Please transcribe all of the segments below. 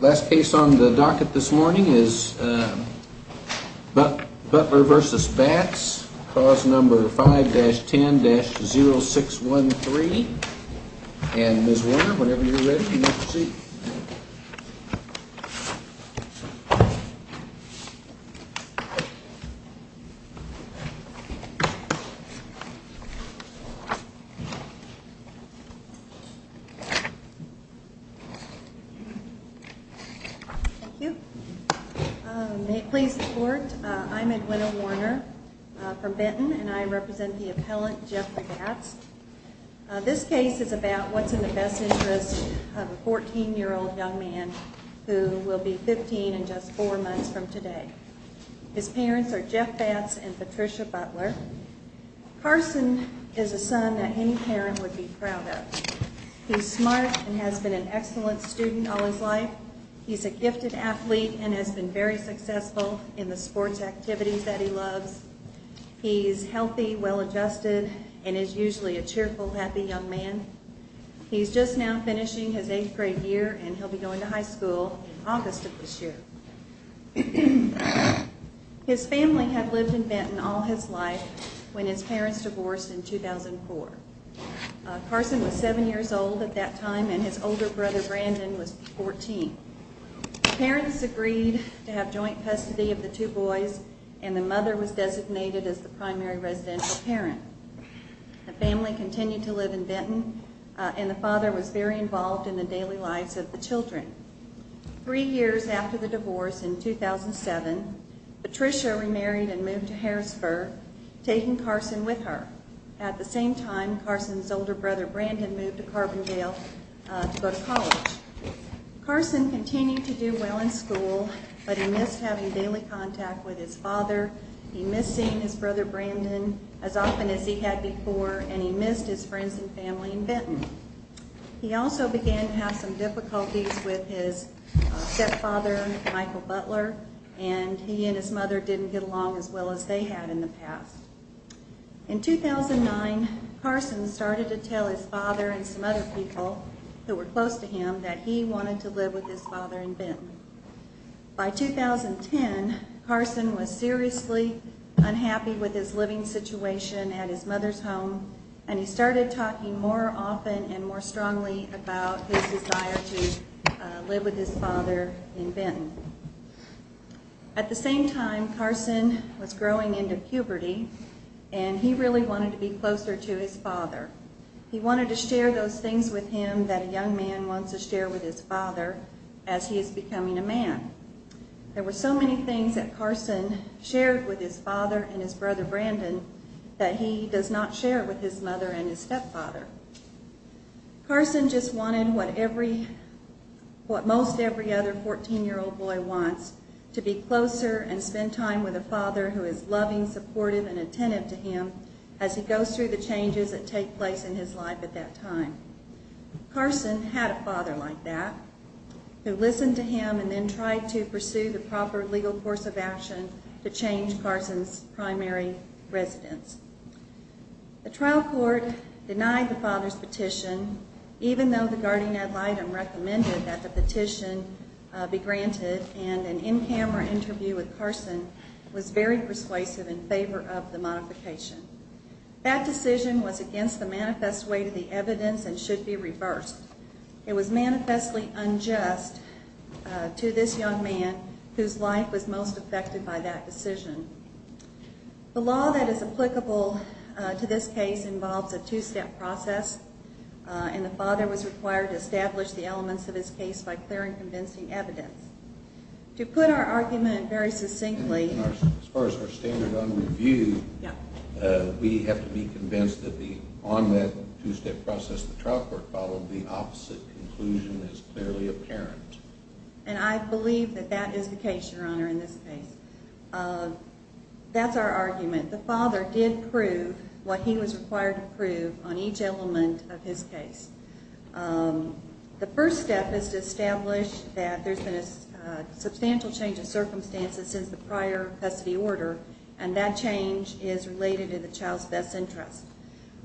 Last case on the docket this morning is But but reverse the spats cause number 5-10-06 13 You may please support I'm Edwina Warner from Benton and I represent the appellant Jeff This case is about what's in the best interest of a 14 year old young man Who will be 15 and just four months from today? His parents are Jeff Bats and Patricia Butler Carson is a son that any parent would be proud of He's smart and has been an excellent student all his life He's a gifted athlete and has been very successful in the sports activities that he loves He's healthy well adjusted and is usually a cheerful happy young man He's just now finishing his eighth grade year, and he'll be going to high school August of this year His family had lived in Benton all his life when his parents divorced in 2004 Carson was seven years old at that time and his older brother Brandon was 14 Parents agreed to have joint custody of the two boys and the mother was designated as the primary residential parent The family continued to live in Benton and the father was very involved in the daily lives of the children three years after the divorce in 2007 Patricia remarried and moved to Harrisburg Taking Carson with her at the same time Carson's older brother Brandon moved to Carbondale Carson continued to do well in school, but he missed having daily contact with his father He missed seeing his brother Brandon as often as he had before and he missed his friends and family in Benton He also began to have some difficulties with his In 2009 Carson started to tell his father and some other people that were close to him that he wanted to live with his father in Benton by 2010 Carson was seriously Unhappy with his living situation at his mother's home, and he started talking more often and more strongly about Live with his father in Benton At the same time Carson was growing into puberty and he really wanted to be closer to his father He wanted to share those things with him that a young man wants to share with his father as he is becoming a man There were so many things that Carson shared with his father and his brother Brandon That he does not share with his mother and his stepfather Carson just wanted what every What most every other 14 year old boy wants to be closer and spend time with a father who is loving Supportive and attentive to him as he goes through the changes that take place in his life at that time Carson had a father like that Who listened to him and then tried to pursue the proper legal course of action to change Carson's primary? residence The trial court denied the father's petition Even though the guardian ad litem recommended that the petition Be granted and an in-camera interview with Carson was very persuasive in favor of the modification That decision was against the manifest way to the evidence and should be reversed. It was manifestly unjust To this young man whose life was most affected by that decision The law that is applicable To this case involves a two-step process And the father was required to establish the elements of his case by clear and convincing evidence To put our argument very succinctly We have to be convinced that the on that two-step process the trial court followed the opposite conclusion is clearly apparent And I believe that that is the case your honor in this case That's our argument the father did prove what he was required to prove on each element of his case the first step is to establish that there's been a Substantial change of circumstances since the prior custody order and that change is related in the child's best interest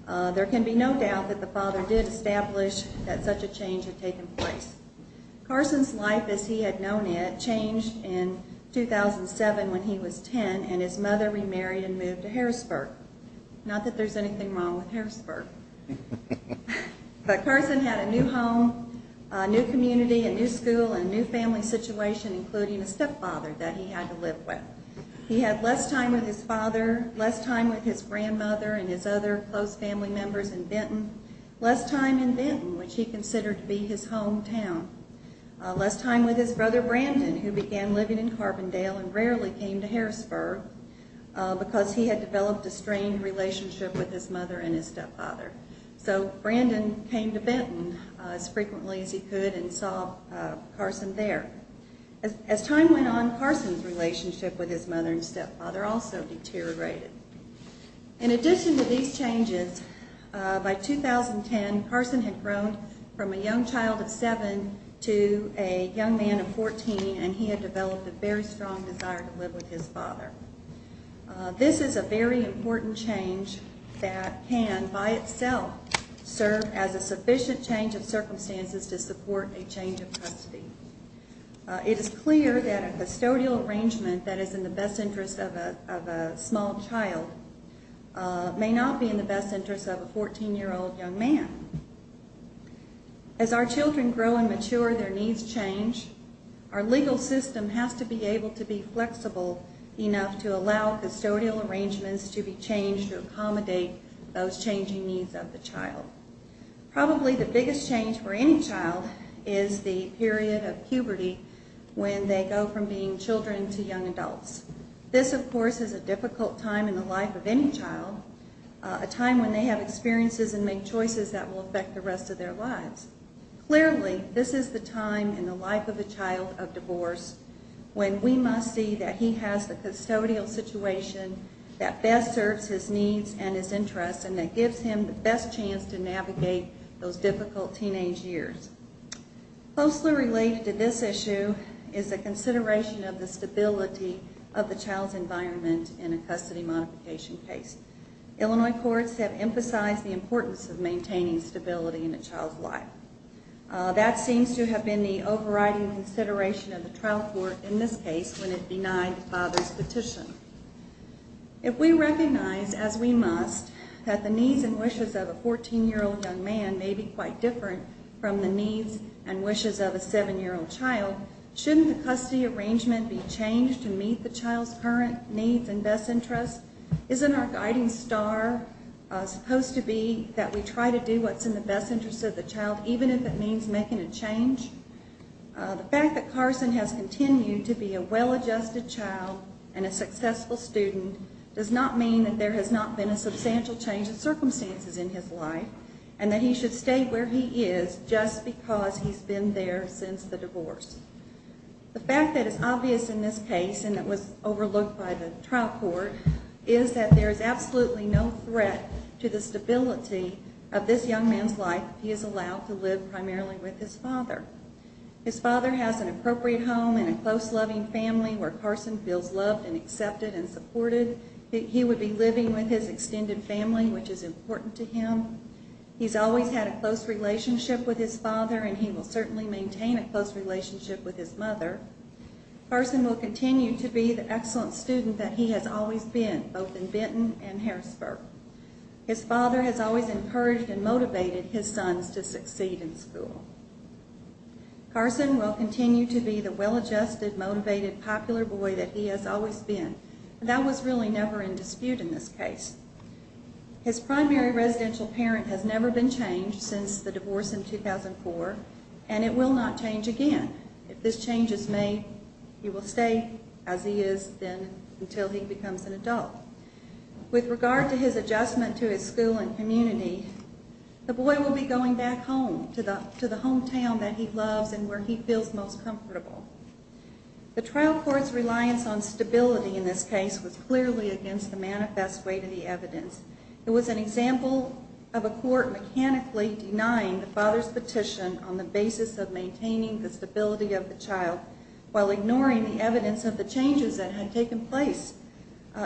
There can be no doubt that the father did establish that such a change had taken place Carson's life as he had known it changed in 2007 when he was 10 and his mother remarried and moved to Harrisburg not that there's anything wrong with Harrisburg But Carson had a new home New community a new school and new family situation including a stepfather that he had to live with He had less time with his father less time with his grandmother and his other close family members in Benton Less time in Benton which he considered to be his hometown Less time with his brother Brandon who began living in Carbondale and rarely came to Harrisburg Because he had developed a strained relationship with his mother and his stepfather So Brandon came to Benton as frequently as he could and saw Carson there as time went on Carson's relationship with his mother and stepfather also deteriorated in addition to these changes By 2010 Carson had grown from a young child of seven to a young man of 14 And he had developed a very strong desire to live with his father This is a very important change that can by itself Serve as a sufficient change of circumstances to support a change of custody It is clear that a custodial arrangement that is in the best interest of a small child May not be in the best interest of a 14 year old young man As our children grow and mature their needs change Our legal system has to be able to be flexible enough to allow custodial arrangements to be changed to accommodate those changing needs of the child Probably the biggest change for any child is the period of puberty When they go from being children to young adults This of course is a difficult time in the life of any child A time when they have experiences and make choices that will affect the rest of their lives Clearly, this is the time in the life of a child of divorce When we must see that he has the custodial situation That best serves his needs and his interests and that gives him the best chance to navigate those difficult teenage years Closely related to this issue is the consideration of the stability of the child's environment in a custody modification case Illinois courts have emphasized the importance of maintaining stability in a child's life That seems to have been the overriding consideration of the trial court in this case when it denied the father's petition If we recognize as we must that the needs and wishes of a 14 year old young man may be quite different From the needs and wishes of a seven-year-old child Shouldn't the custody arrangement be changed to meet the child's current needs and best interests? Isn't our guiding star Supposed to be that we try to do what's in the best interest of the child, even if it means making a change The fact that Carson has continued to be a well-adjusted child and a successful student Does not mean that there has not been a substantial change of circumstances in his life And that he should stay where he is just because he's been there since the divorce The fact that it's obvious in this case and it was overlooked by the trial court Is that there is absolutely no threat to the stability of this young man's life He is allowed to live primarily with his father His father has an appropriate home and a close loving family where Carson feels loved and accepted and supported He would be living with his extended family, which is important to him He's always had a close relationship with his father and he will certainly maintain a close relationship with his mother Carson will continue to be the excellent student that he has always been both in Benton and Harrisburg His father has always encouraged and motivated his sons to succeed in school Carson will continue to be the well-adjusted motivated popular boy that he has always been That was really never in dispute in this case His primary residential parent has never been changed since the divorce in 2004 And it will not change again If this change is made, he will stay as he is then until he becomes an adult With regard to his adjustment to his school and community The boy will be going back home to the hometown that he loves and where he feels most comfortable The trial court's reliance on stability in this case was clearly against the manifest weight of the evidence It was an example of a court mechanically denying the father's petition on the basis of maintaining the stability of the child While ignoring the evidence of the changes that had taken place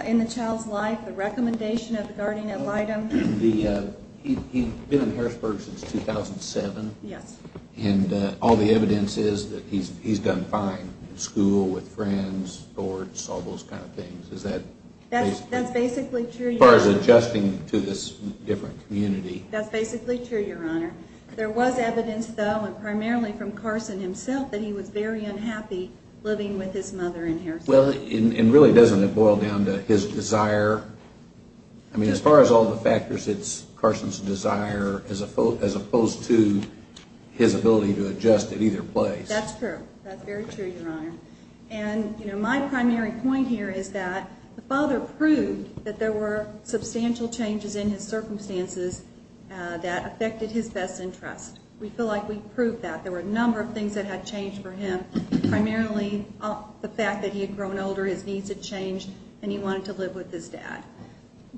In the child's life the recommendation of the guardian ad litem the uh, he's been in Harrisburg since 2007 Yes, and uh all the evidence is that he's he's done fine in school with friends or all those kind of things Is that that's that's basically true as far as adjusting to this different community? That's basically true your honor There was evidence though and primarily from carson himself that he was very unhappy living with his mother in here Well, and really doesn't it boil down to his desire? I mean as far as all the factors, it's carson's desire as opposed as opposed to His ability to adjust at either place. That's true. That's very true your honor And you know my primary point here is that the father proved that there were substantial changes in his circumstances That affected his best interest. We feel like we proved that there were a number of things that had changed for him Primarily the fact that he had grown older his needs had changed and he wanted to live with his dad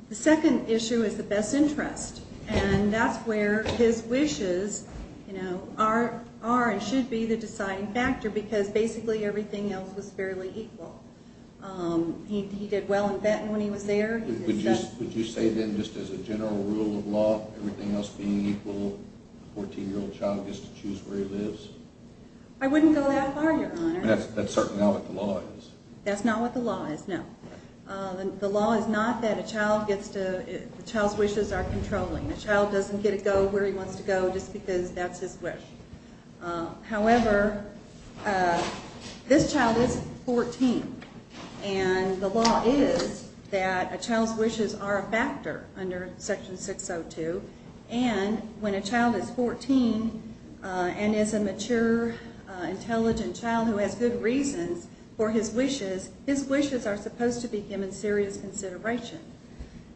The second issue is the best interest and that's where his wishes You know are are and should be the deciding factor because basically everything else was fairly equal Um, he he did well in baton when he was there Would you say then just as a general rule of law everything else being equal? 14 year old child gets to choose where he lives I wouldn't go that far your honor. That's that's certainly not what the law is. That's not what the law is. No The law is not that a child gets to Child's wishes are controlling the child doesn't get to go where he wants to go just because that's his wish however This child is 14 And the law is that a child's wishes are a factor under section 602 And when a child is 14 And is a mature Intelligent child who has good reasons for his wishes. His wishes are supposed to be given serious consideration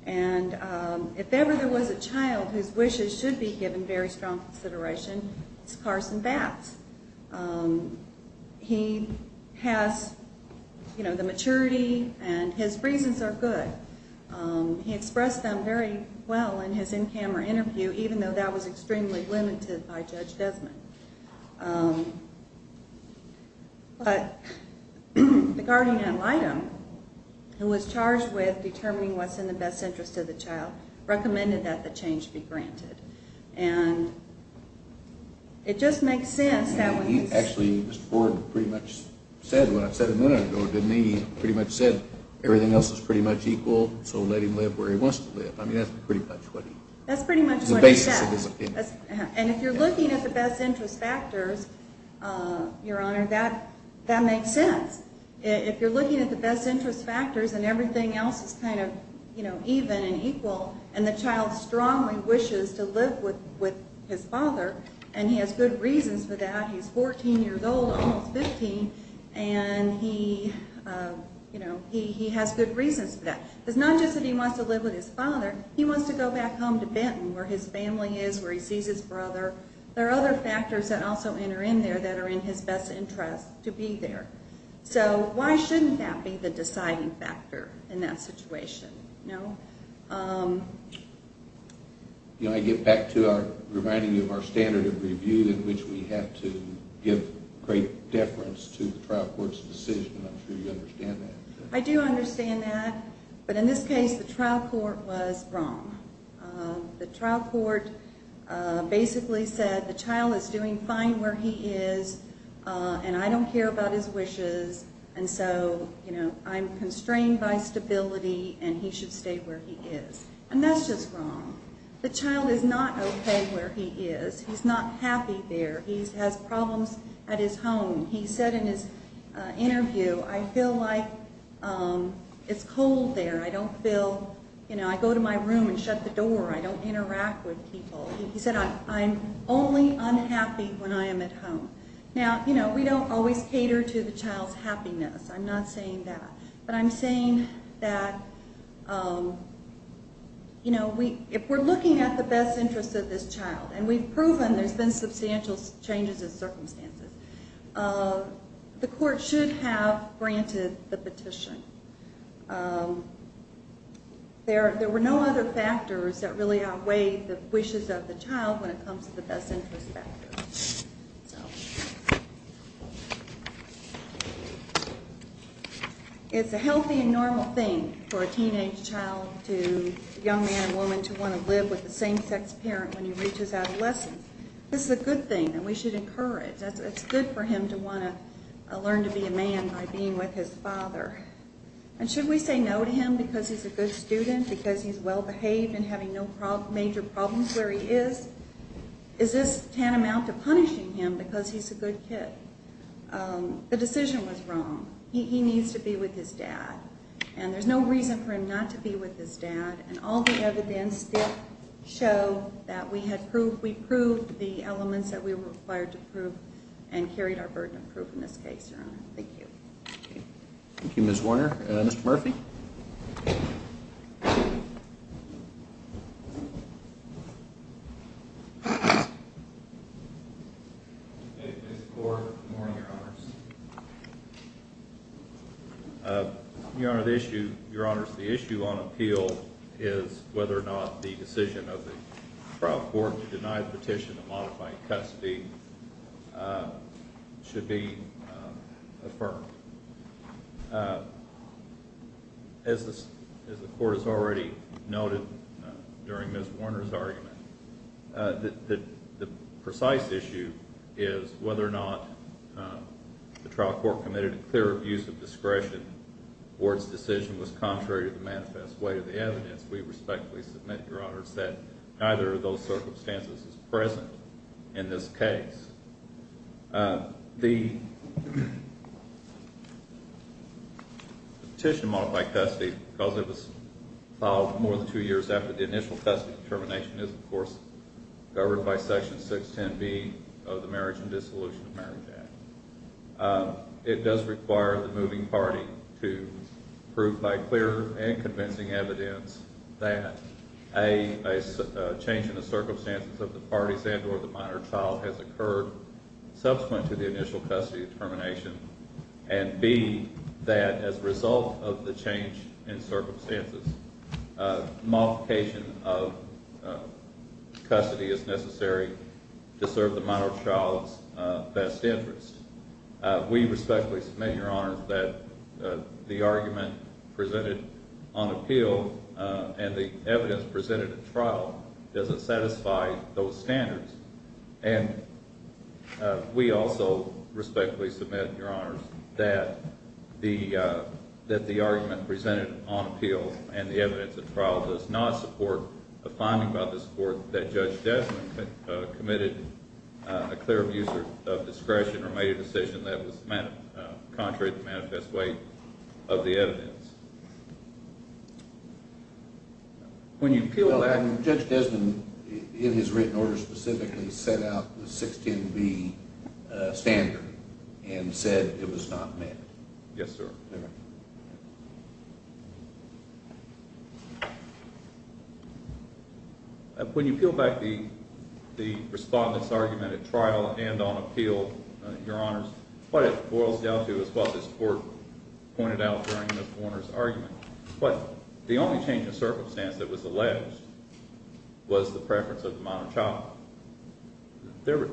And um, if ever there was a child whose wishes should be given very strong consideration, it's carson batts He has You know the maturity and his reasons are good Um, he expressed them very well in his in-camera interview, even though that was extremely limited by judge desmond But the guardian ad litem Who was charged with determining what's in the best interest of the child recommended that the change be granted and It just makes sense that when he actually just forwarded pretty much Said what i've said a minute ago, didn't he pretty much said everything else is pretty much equal So let him live where he wants to live. I mean, that's pretty much what that's pretty much And if you're looking at the best interest factors Uh, your honor that that makes sense If you're looking at the best interest factors and everything else is kind of, you know Even and equal and the child strongly wishes to live with with his father and he has good reasons for that He's 14 years old almost 15 and he You know, he he has good reasons for that. It's not just that he wants to live with his father He wants to go back home to benton where his family is where he sees his brother There are other factors that also enter in there that are in his best interest to be there So why shouldn't that be the deciding factor in that situation? No um You know I get back to our reminding you of our standard of review in which we have to Give great deference to the trial court's decision. I'm sure you understand that I do understand that But in this case the trial court was wrong the trial court Uh basically said the child is doing fine where he is Uh, and I don't care about his wishes And so, you know i'm constrained by stability and he should stay where he is and that's just wrong The child is not okay where he is. He's not happy there. He's has problems at his home. He said in his interview I feel like um It's cold there. I don't feel you know, I go to my room and shut the door. I don't interact with people He said i'm only unhappy when I am at home Now, you know, we don't always cater to the child's happiness. I'm not saying that but i'm saying that um You know, we if we're looking at the best interest of this child and we've proven there's been substantial changes in circumstances uh The court should have granted the petition um There there were no other factors that really outweigh the wishes of the child when it comes to the best interest factors So It's a healthy and normal thing for a teenage child to Young man and woman to want to live with the same sex parent when he reaches adolescence This is a good thing and we should encourage that's it's good for him to want to Learn to be a man by being with his father And should we say no to him because he's a good student because he's well behaved and having no problem major problems where he is Is this tantamount to punishing him because he's a good kid Um, the decision was wrong. He needs to be with his dad And there's no reason for him not to be with his dad and all the evidence did Show that we had proof we proved the elements that we were required to prove And carried our burden of proof in this case your honor. Thank you Thank you. Ms. Warner, uh, mr. Murphy Yes Your honor the issue your honors the issue on appeal is whether or not the decision of the trial court to deny the petition of modifying custody Should be affirmed As this as the court has already noted during miss warner's argument The precise issue is whether or not The trial court committed a clear abuse of discretion The board's decision was contrary to the manifest way of the evidence We respectfully submit your honors that neither of those circumstances is present in this case The Petition to modify custody because it was More than two years after the initial custody determination is of course Governed by section 610 b of the marriage and dissolution of marriage act It does require the moving party to prove by clear and convincing evidence that a Change in the circumstances of the parties and or the minor child has occurred Subsequent to the initial custody determination And b that as a result of the change in circumstances Modification of Custody is necessary to serve the minor child's best interest we respectfully submit your honors that the argument presented on appeal And the evidence presented at trial doesn't satisfy those standards and we also respectfully submit your honors that the uh Argument presented on appeal and the evidence at trial does not support a finding about the support that judge desmond committed a clear abuser of discretion or made a decision that was Contrary to the manifest way of the evidence When you feel that judge desmond in his written order specifically set out the 16 b Standard and said it was not met. Yes, sir Yes When you peel back the The respondent's argument at trial and on appeal your honors what it boils down to is what this court Pointed out during this warner's argument, but the only change of circumstance that was alleged Was the preference of the minor child There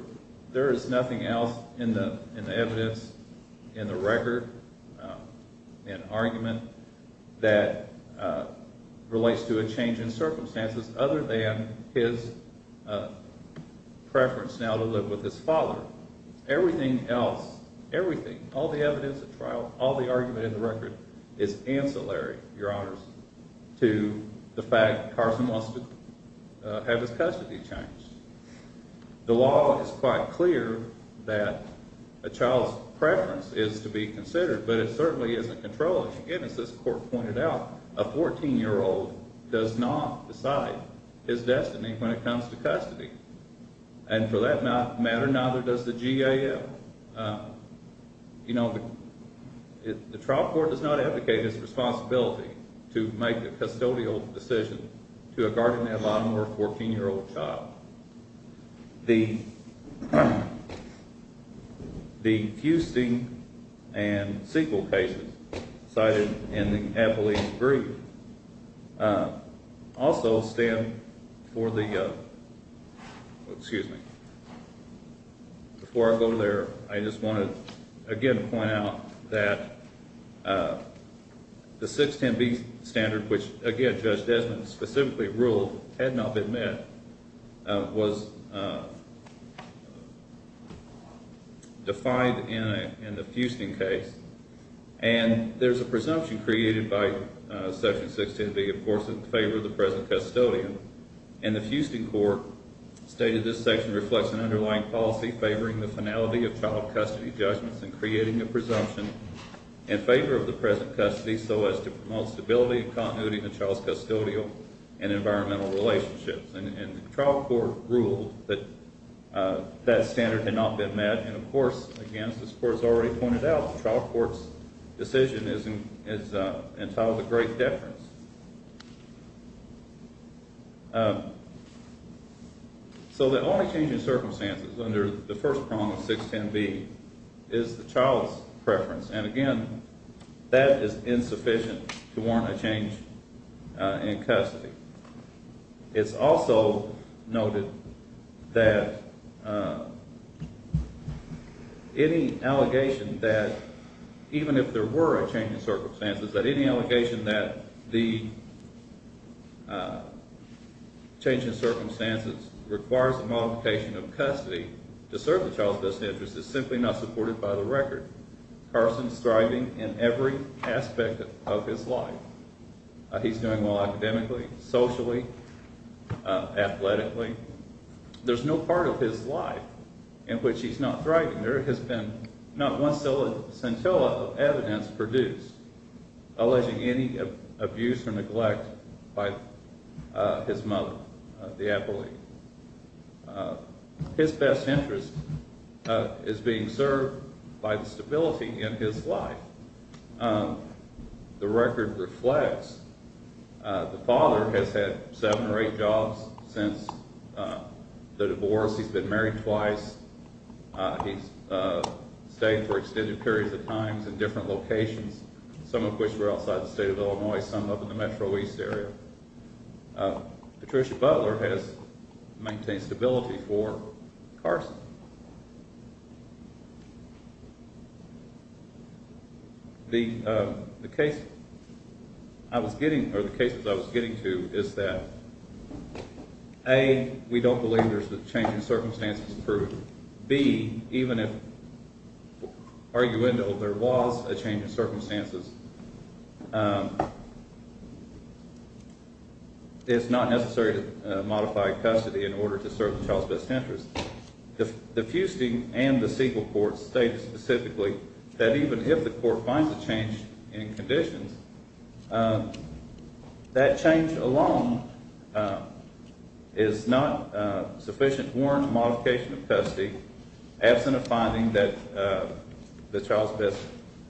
there is nothing else in the in the evidence in the record An argument that relates to a change in circumstances other than his Preference now to live with his father Everything else everything all the evidence at trial all the argument in the record is ancillary your honors to the fact carson wants to Have his custody changed The law is quite clear That A child's preference is to be considered, but it certainly isn't controlling again As this court pointed out a 14 year old does not decide his destiny when it comes to custody And for that matter, neither does the gaf You know The trial court does not advocate his responsibility to make a custodial decision to a guardian a lot more 14 year old child the um The fusting and sequel cases cited in the appellee's brief Also stand for the uh, excuse me Before I go there. I just want to again point out that The 610b standard which again judge desmond specifically ruled had not been met Was Defined in a in the fusting case and there's a presumption created by Section 610b, of course in favor of the present custodian and the fusting court Stated this section reflects an underlying policy favoring the finality of child custody judgments and creating a presumption In favor of the present custody so as to promote stability and continuity in the child's custodial and environmental relationships and the trial court ruled that That standard had not been met. And of course again, this court has already pointed out the trial court's Decision is is uh entitled a great deference So the only change in circumstances under the first prong of 610b Is the child's preference and again That is insufficient to warrant a change In custody, it's also noted that Any allegation that even if there were a change in circumstances that any allegation that the Change in circumstances requires the modification of custody to serve the child's best interest is simply not supported by the record Carson's thriving in every aspect of his life He's doing well academically, socially Athletically There's no part of his life In which he's not thriving. There has been not one scintilla of evidence produced alleging any abuse or neglect by his mother the appellee His best interest is being served by the stability in his life Um the record reflects The father has had seven or eight jobs since The divorce he's been married twice he's Stayed for extended periods of times in different locations Some of which were outside the state of illinois some up in the metro east area Patricia butler has maintained stability for Carson The um the case I was getting or the cases I was getting to is that A we don't believe there's a change in circumstances approved b even if Arguendo there was a change in circumstances It's not necessary to modify custody in order to serve the child's best interest The the fusting and the sequel court stated specifically that even if the court finds a change in conditions That change alone Is not uh sufficient warrant modification of custody absent of finding that The child's best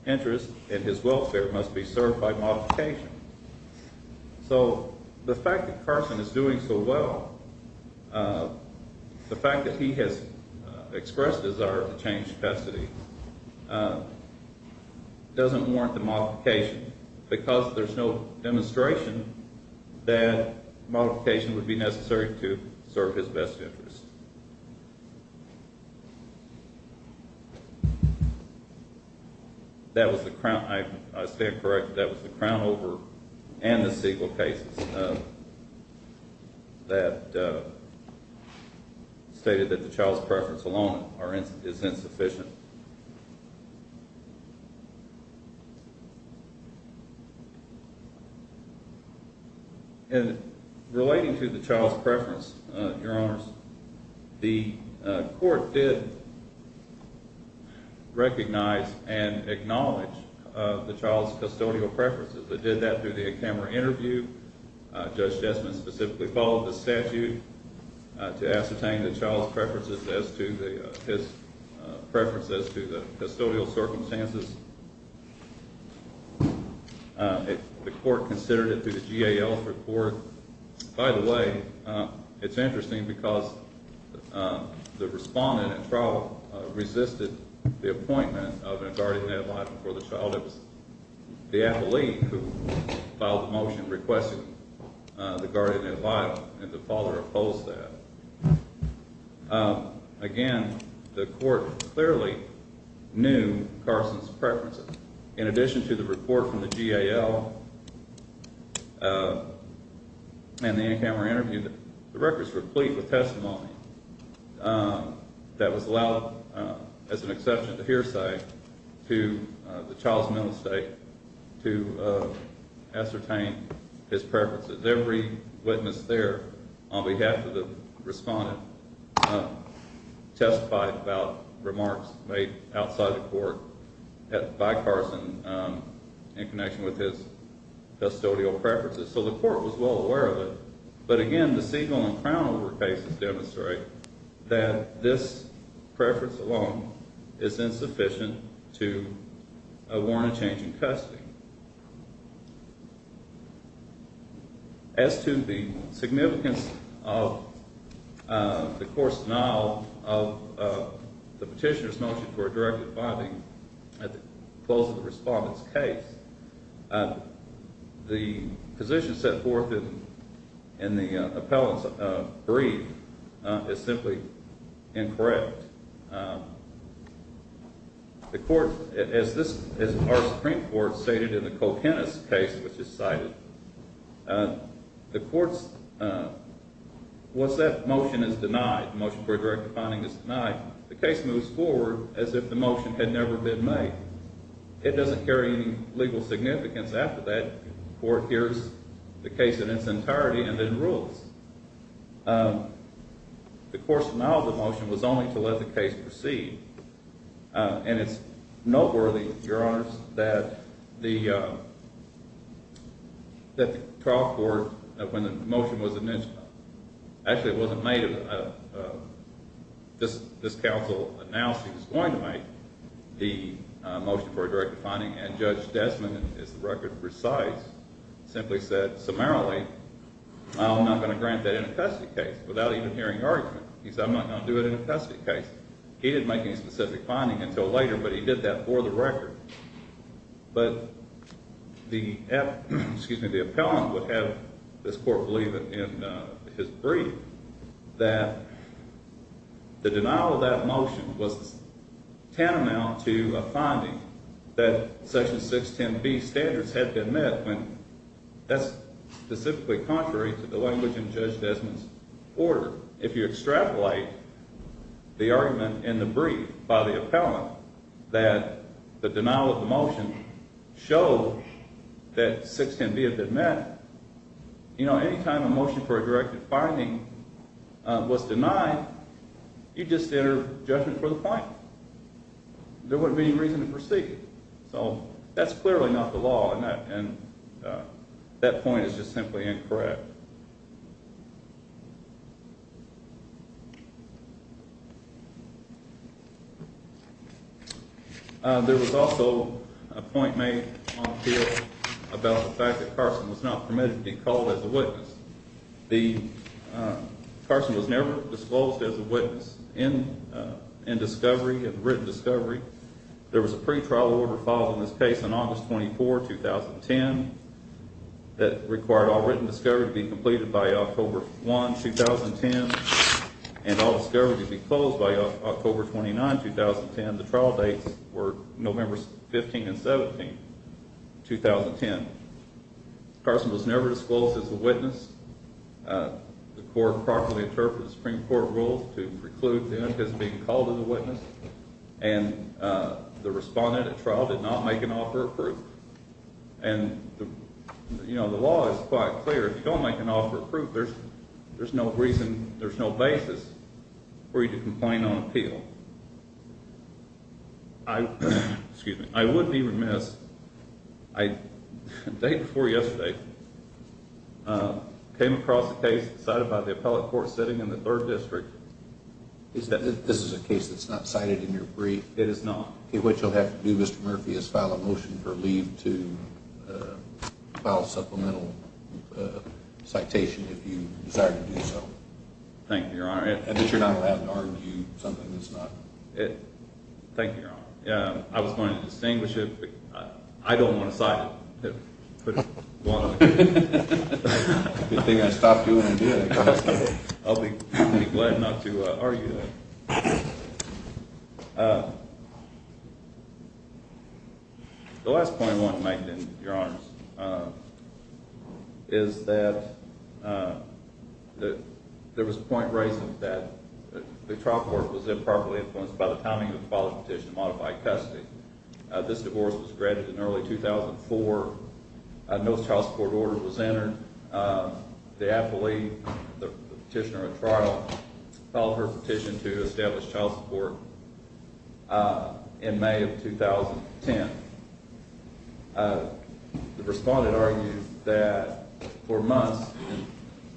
interest and his welfare must be served by modification So the fact that carson is doing so well Uh, the fact that he has expressed desire to change custody Doesn't warrant the modification because there's no demonstration that Modification would be necessary to serve his best interest That was the crown I stand corrected that was the crown over and the seagull cases Uh That Stated that the child's preference alone are is insufficient And relating to the child's preference, uh, your honors the court did Recognize and acknowledge Of the child's custodial preferences that did that through the camera interview Judge jessman specifically followed the statute to ascertain the child's preferences as to the Preference as to the custodial circumstances If the court considered it through the gal report by the way it's interesting because The respondent at trial resisted the appointment of a guardian advisor for the child. It was the athlete who Requested the guardian advisor and the father opposed that Again the court clearly knew carson's preferences in addition to the report from the gal And the in-camera interview the records were complete with testimony That was allowed as an exception to hearsay to the child's mental state to Ascertain his preferences every witness there on behalf of the respondent Testified about remarks made outside the court at by carson, um in connection with his Custodial preferences so the court was well aware of it. But again, the seagull and crown over cases demonstrate that this preference alone is insufficient to warrant a change in custody um As to the significance of uh, the court's denial of The petitioner's notion for a directive binding at the close of the respondent's case The position set forth in the appellant's brief is simply incorrect Um The court as this is our supreme court stated in the co-pennis case which is cited The court's uh What's that motion is denied motion for a directive finding is denied the case moves forward as if the motion had never been made It doesn't carry any legal significance after that court hears the case in its entirety and then rules um The court's denial of the motion was only to let the case proceed uh, and it's noteworthy your honors that the uh, That the trial court when the motion was initially actually it wasn't made of This this council announced he was going to make the Motion for a directive finding and judge desmond is the record precise simply said summarily I'm not going to grant that in a custody case without even hearing argument. He said i'm not going to do it in a custody case He didn't make any specific finding until later, but he did that for the record but the Excuse me. The appellant would have this court believe it in his brief that the denial of that motion was tantamount to a finding that section 610 b standards had been met when That's specifically contrary to the language in judge desmond's order if you extrapolate The argument in the brief by the appellant that the denial of the motion showed That 610b had been met You know anytime a motion for a directive finding Was denied You just enter judgment for the point There wouldn't be any reason to proceed. So that's clearly not the law and that and That point is just simply incorrect There was also a point made About the fact that carson was not permitted to be called as a witness the Carson was never disclosed as a witness in in discovery and written discovery There was a pre-trial order following this case on august 24 2010 That required all written discovery to be completed by october 1 2010 And all discovery to be closed by october 29 2010. The trial dates were november 15 and 17 2010 Carson was never disclosed as a witness The court properly interpreted the supreme court rules to preclude the unit as being called as a witness and The respondent at trial did not make an offer of proof and You know, the law is quite clear. If you don't make an offer of proof, there's there's no reason there's no basis For you to complain on appeal I excuse me, I would be remiss I the day before yesterday Came across the case decided by the appellate court sitting in the third district Is that this is a case that's not cited in your brief. It is not okay You'll have to do mr. Murphy is file a motion for leave to File a supplemental Citation if you desire to do so. Thank you, your honor. I bet you're not allowed to argue something. That's not it Thank you. Your honor. Yeah, I was going to distinguish it. I don't want to cite it Good thing I stopped doing it. I'll be glad not to argue that The last point I want to make in your arms Is that That there was a point raising that The trial court was improperly influenced by the timing of the father's petition to modify custody This divorce was granted in early 2004 No child support order was entered The appellee the petitioner at trial Filed her petition to establish child support In may of 2010 The respondent argued that for months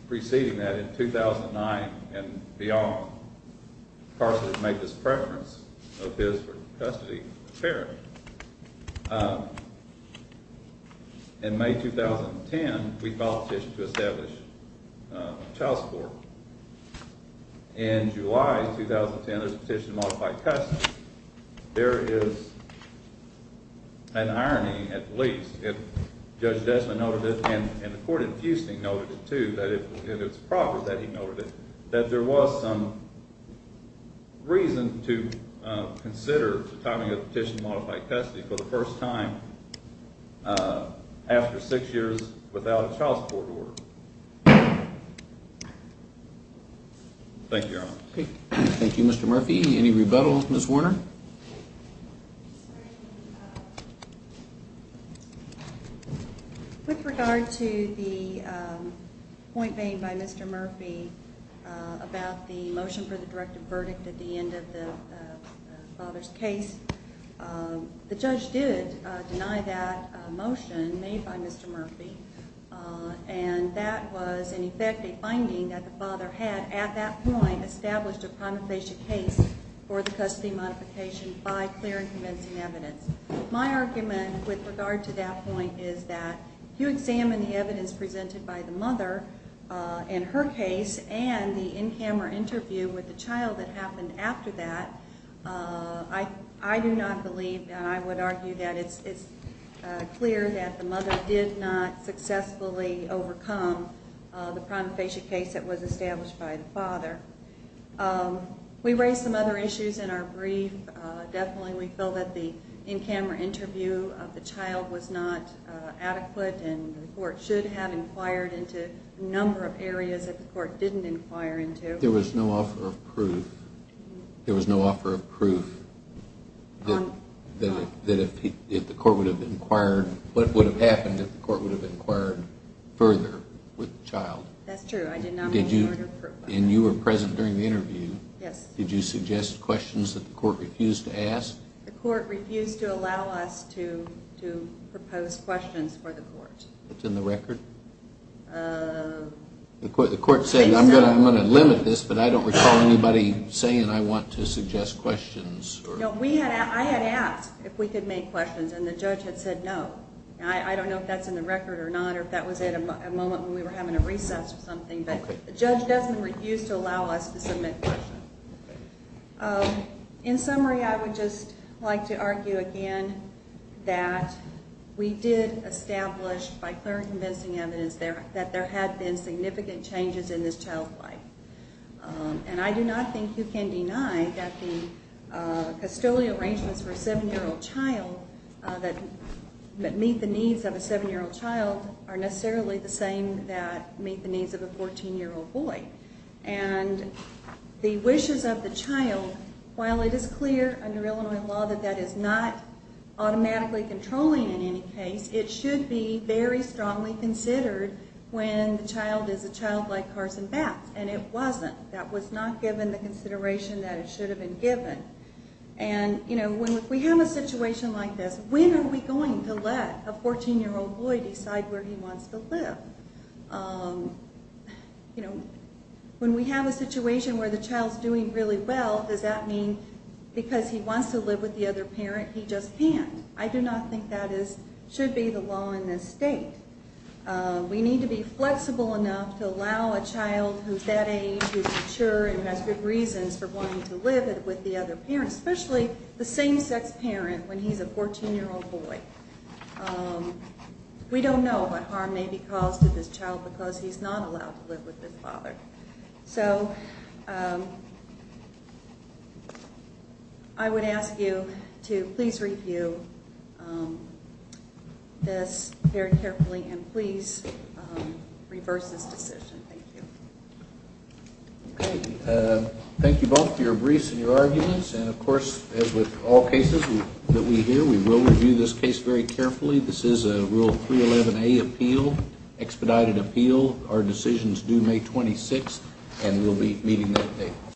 preceding that in 2009 and beyond Carson had made this preference of his for custody of the parent In may 2010 we filed a petition to establish child support In july 2010 there's a petition to modify custody there is An irony at least if judge Desmond noted it and the court in fusting noted it too that it It's proper that he noted it that there was some Reason to consider the timing of the petition to modify custody for the first time After six years without a child support order Thank you, thank you, mr. Murphy any rebuttals miss warner With regard to the Point made by mr. Murphy about the motion for the directive verdict at the end of the father's case The judge did deny that motion made by mr. Murphy Uh, and that was in effect a finding that the father had at that point established a primate patient case For the custody modification by clear and convincing evidence My argument with regard to that point is that if you examine the evidence presented by the mother Uh in her case and the in-camera interview with the child that happened after that uh, I I do not believe and I would argue that it's it's Clear that the mother did not successfully overcome The primate patient case that was established by the father um We raised some other issues in our brief definitely, we feel that the in-camera interview of the child was not Adequate and the court should have inquired into a number of areas that the court didn't inquire into there was no offer of proof There was no offer of proof That if if the court would have inquired what would have happened if the court would have inquired Further with the child. That's true. I did not And you were present during the interview. Yes. Did you suggest questions that the court refused to ask the court refused to allow us to To propose questions for the court. It's in the record uh The court the court said i'm gonna i'm gonna limit this but I don't recall anybody saying I want to suggest questions No, we had I had asked if we could make questions and the judge had said no I I don't know if that's in the record or not Or if that was at a moment when we were having a recess or something But the judge doesn't refuse to allow us to submit questions um In summary, I would just like to argue again that We did establish by clear and convincing evidence there that there had been significant changes in this child's life um, and I do not think you can deny that the custodial arrangements for a seven-year-old child that That meet the needs of a seven-year-old child are necessarily the same that meet the needs of a 14-year-old boy and the wishes of the child While it is clear under illinois law that that is not Automatically controlling in any case it should be very strongly considered When the child is a child like carson baths and it wasn't that was not given the consideration that it should have been given And you know when we have a situation like this, when are we going to let a 14-year-old boy decide where he wants to live? um You know When we have a situation where the child's doing really well, does that mean? Because he wants to live with the other parent. He just can't I do not think that is should be the law in this state Uh, we need to be flexible enough to allow a child who's that age Who's mature and has good reasons for wanting to live with the other parents, especially the same-sex parent when he's a 14-year-old boy um We don't know what harm may be caused to this child because he's not allowed to live with his father so um I would ask you to please review This very carefully and please reverse this decision. Thank you Okay, uh, thank you both for your briefs and your arguments and of course as with all cases That we hear we will review this case very carefully. This is a rule 311a appeal Expedited appeal our decisions due may 26th, and we'll be meeting that date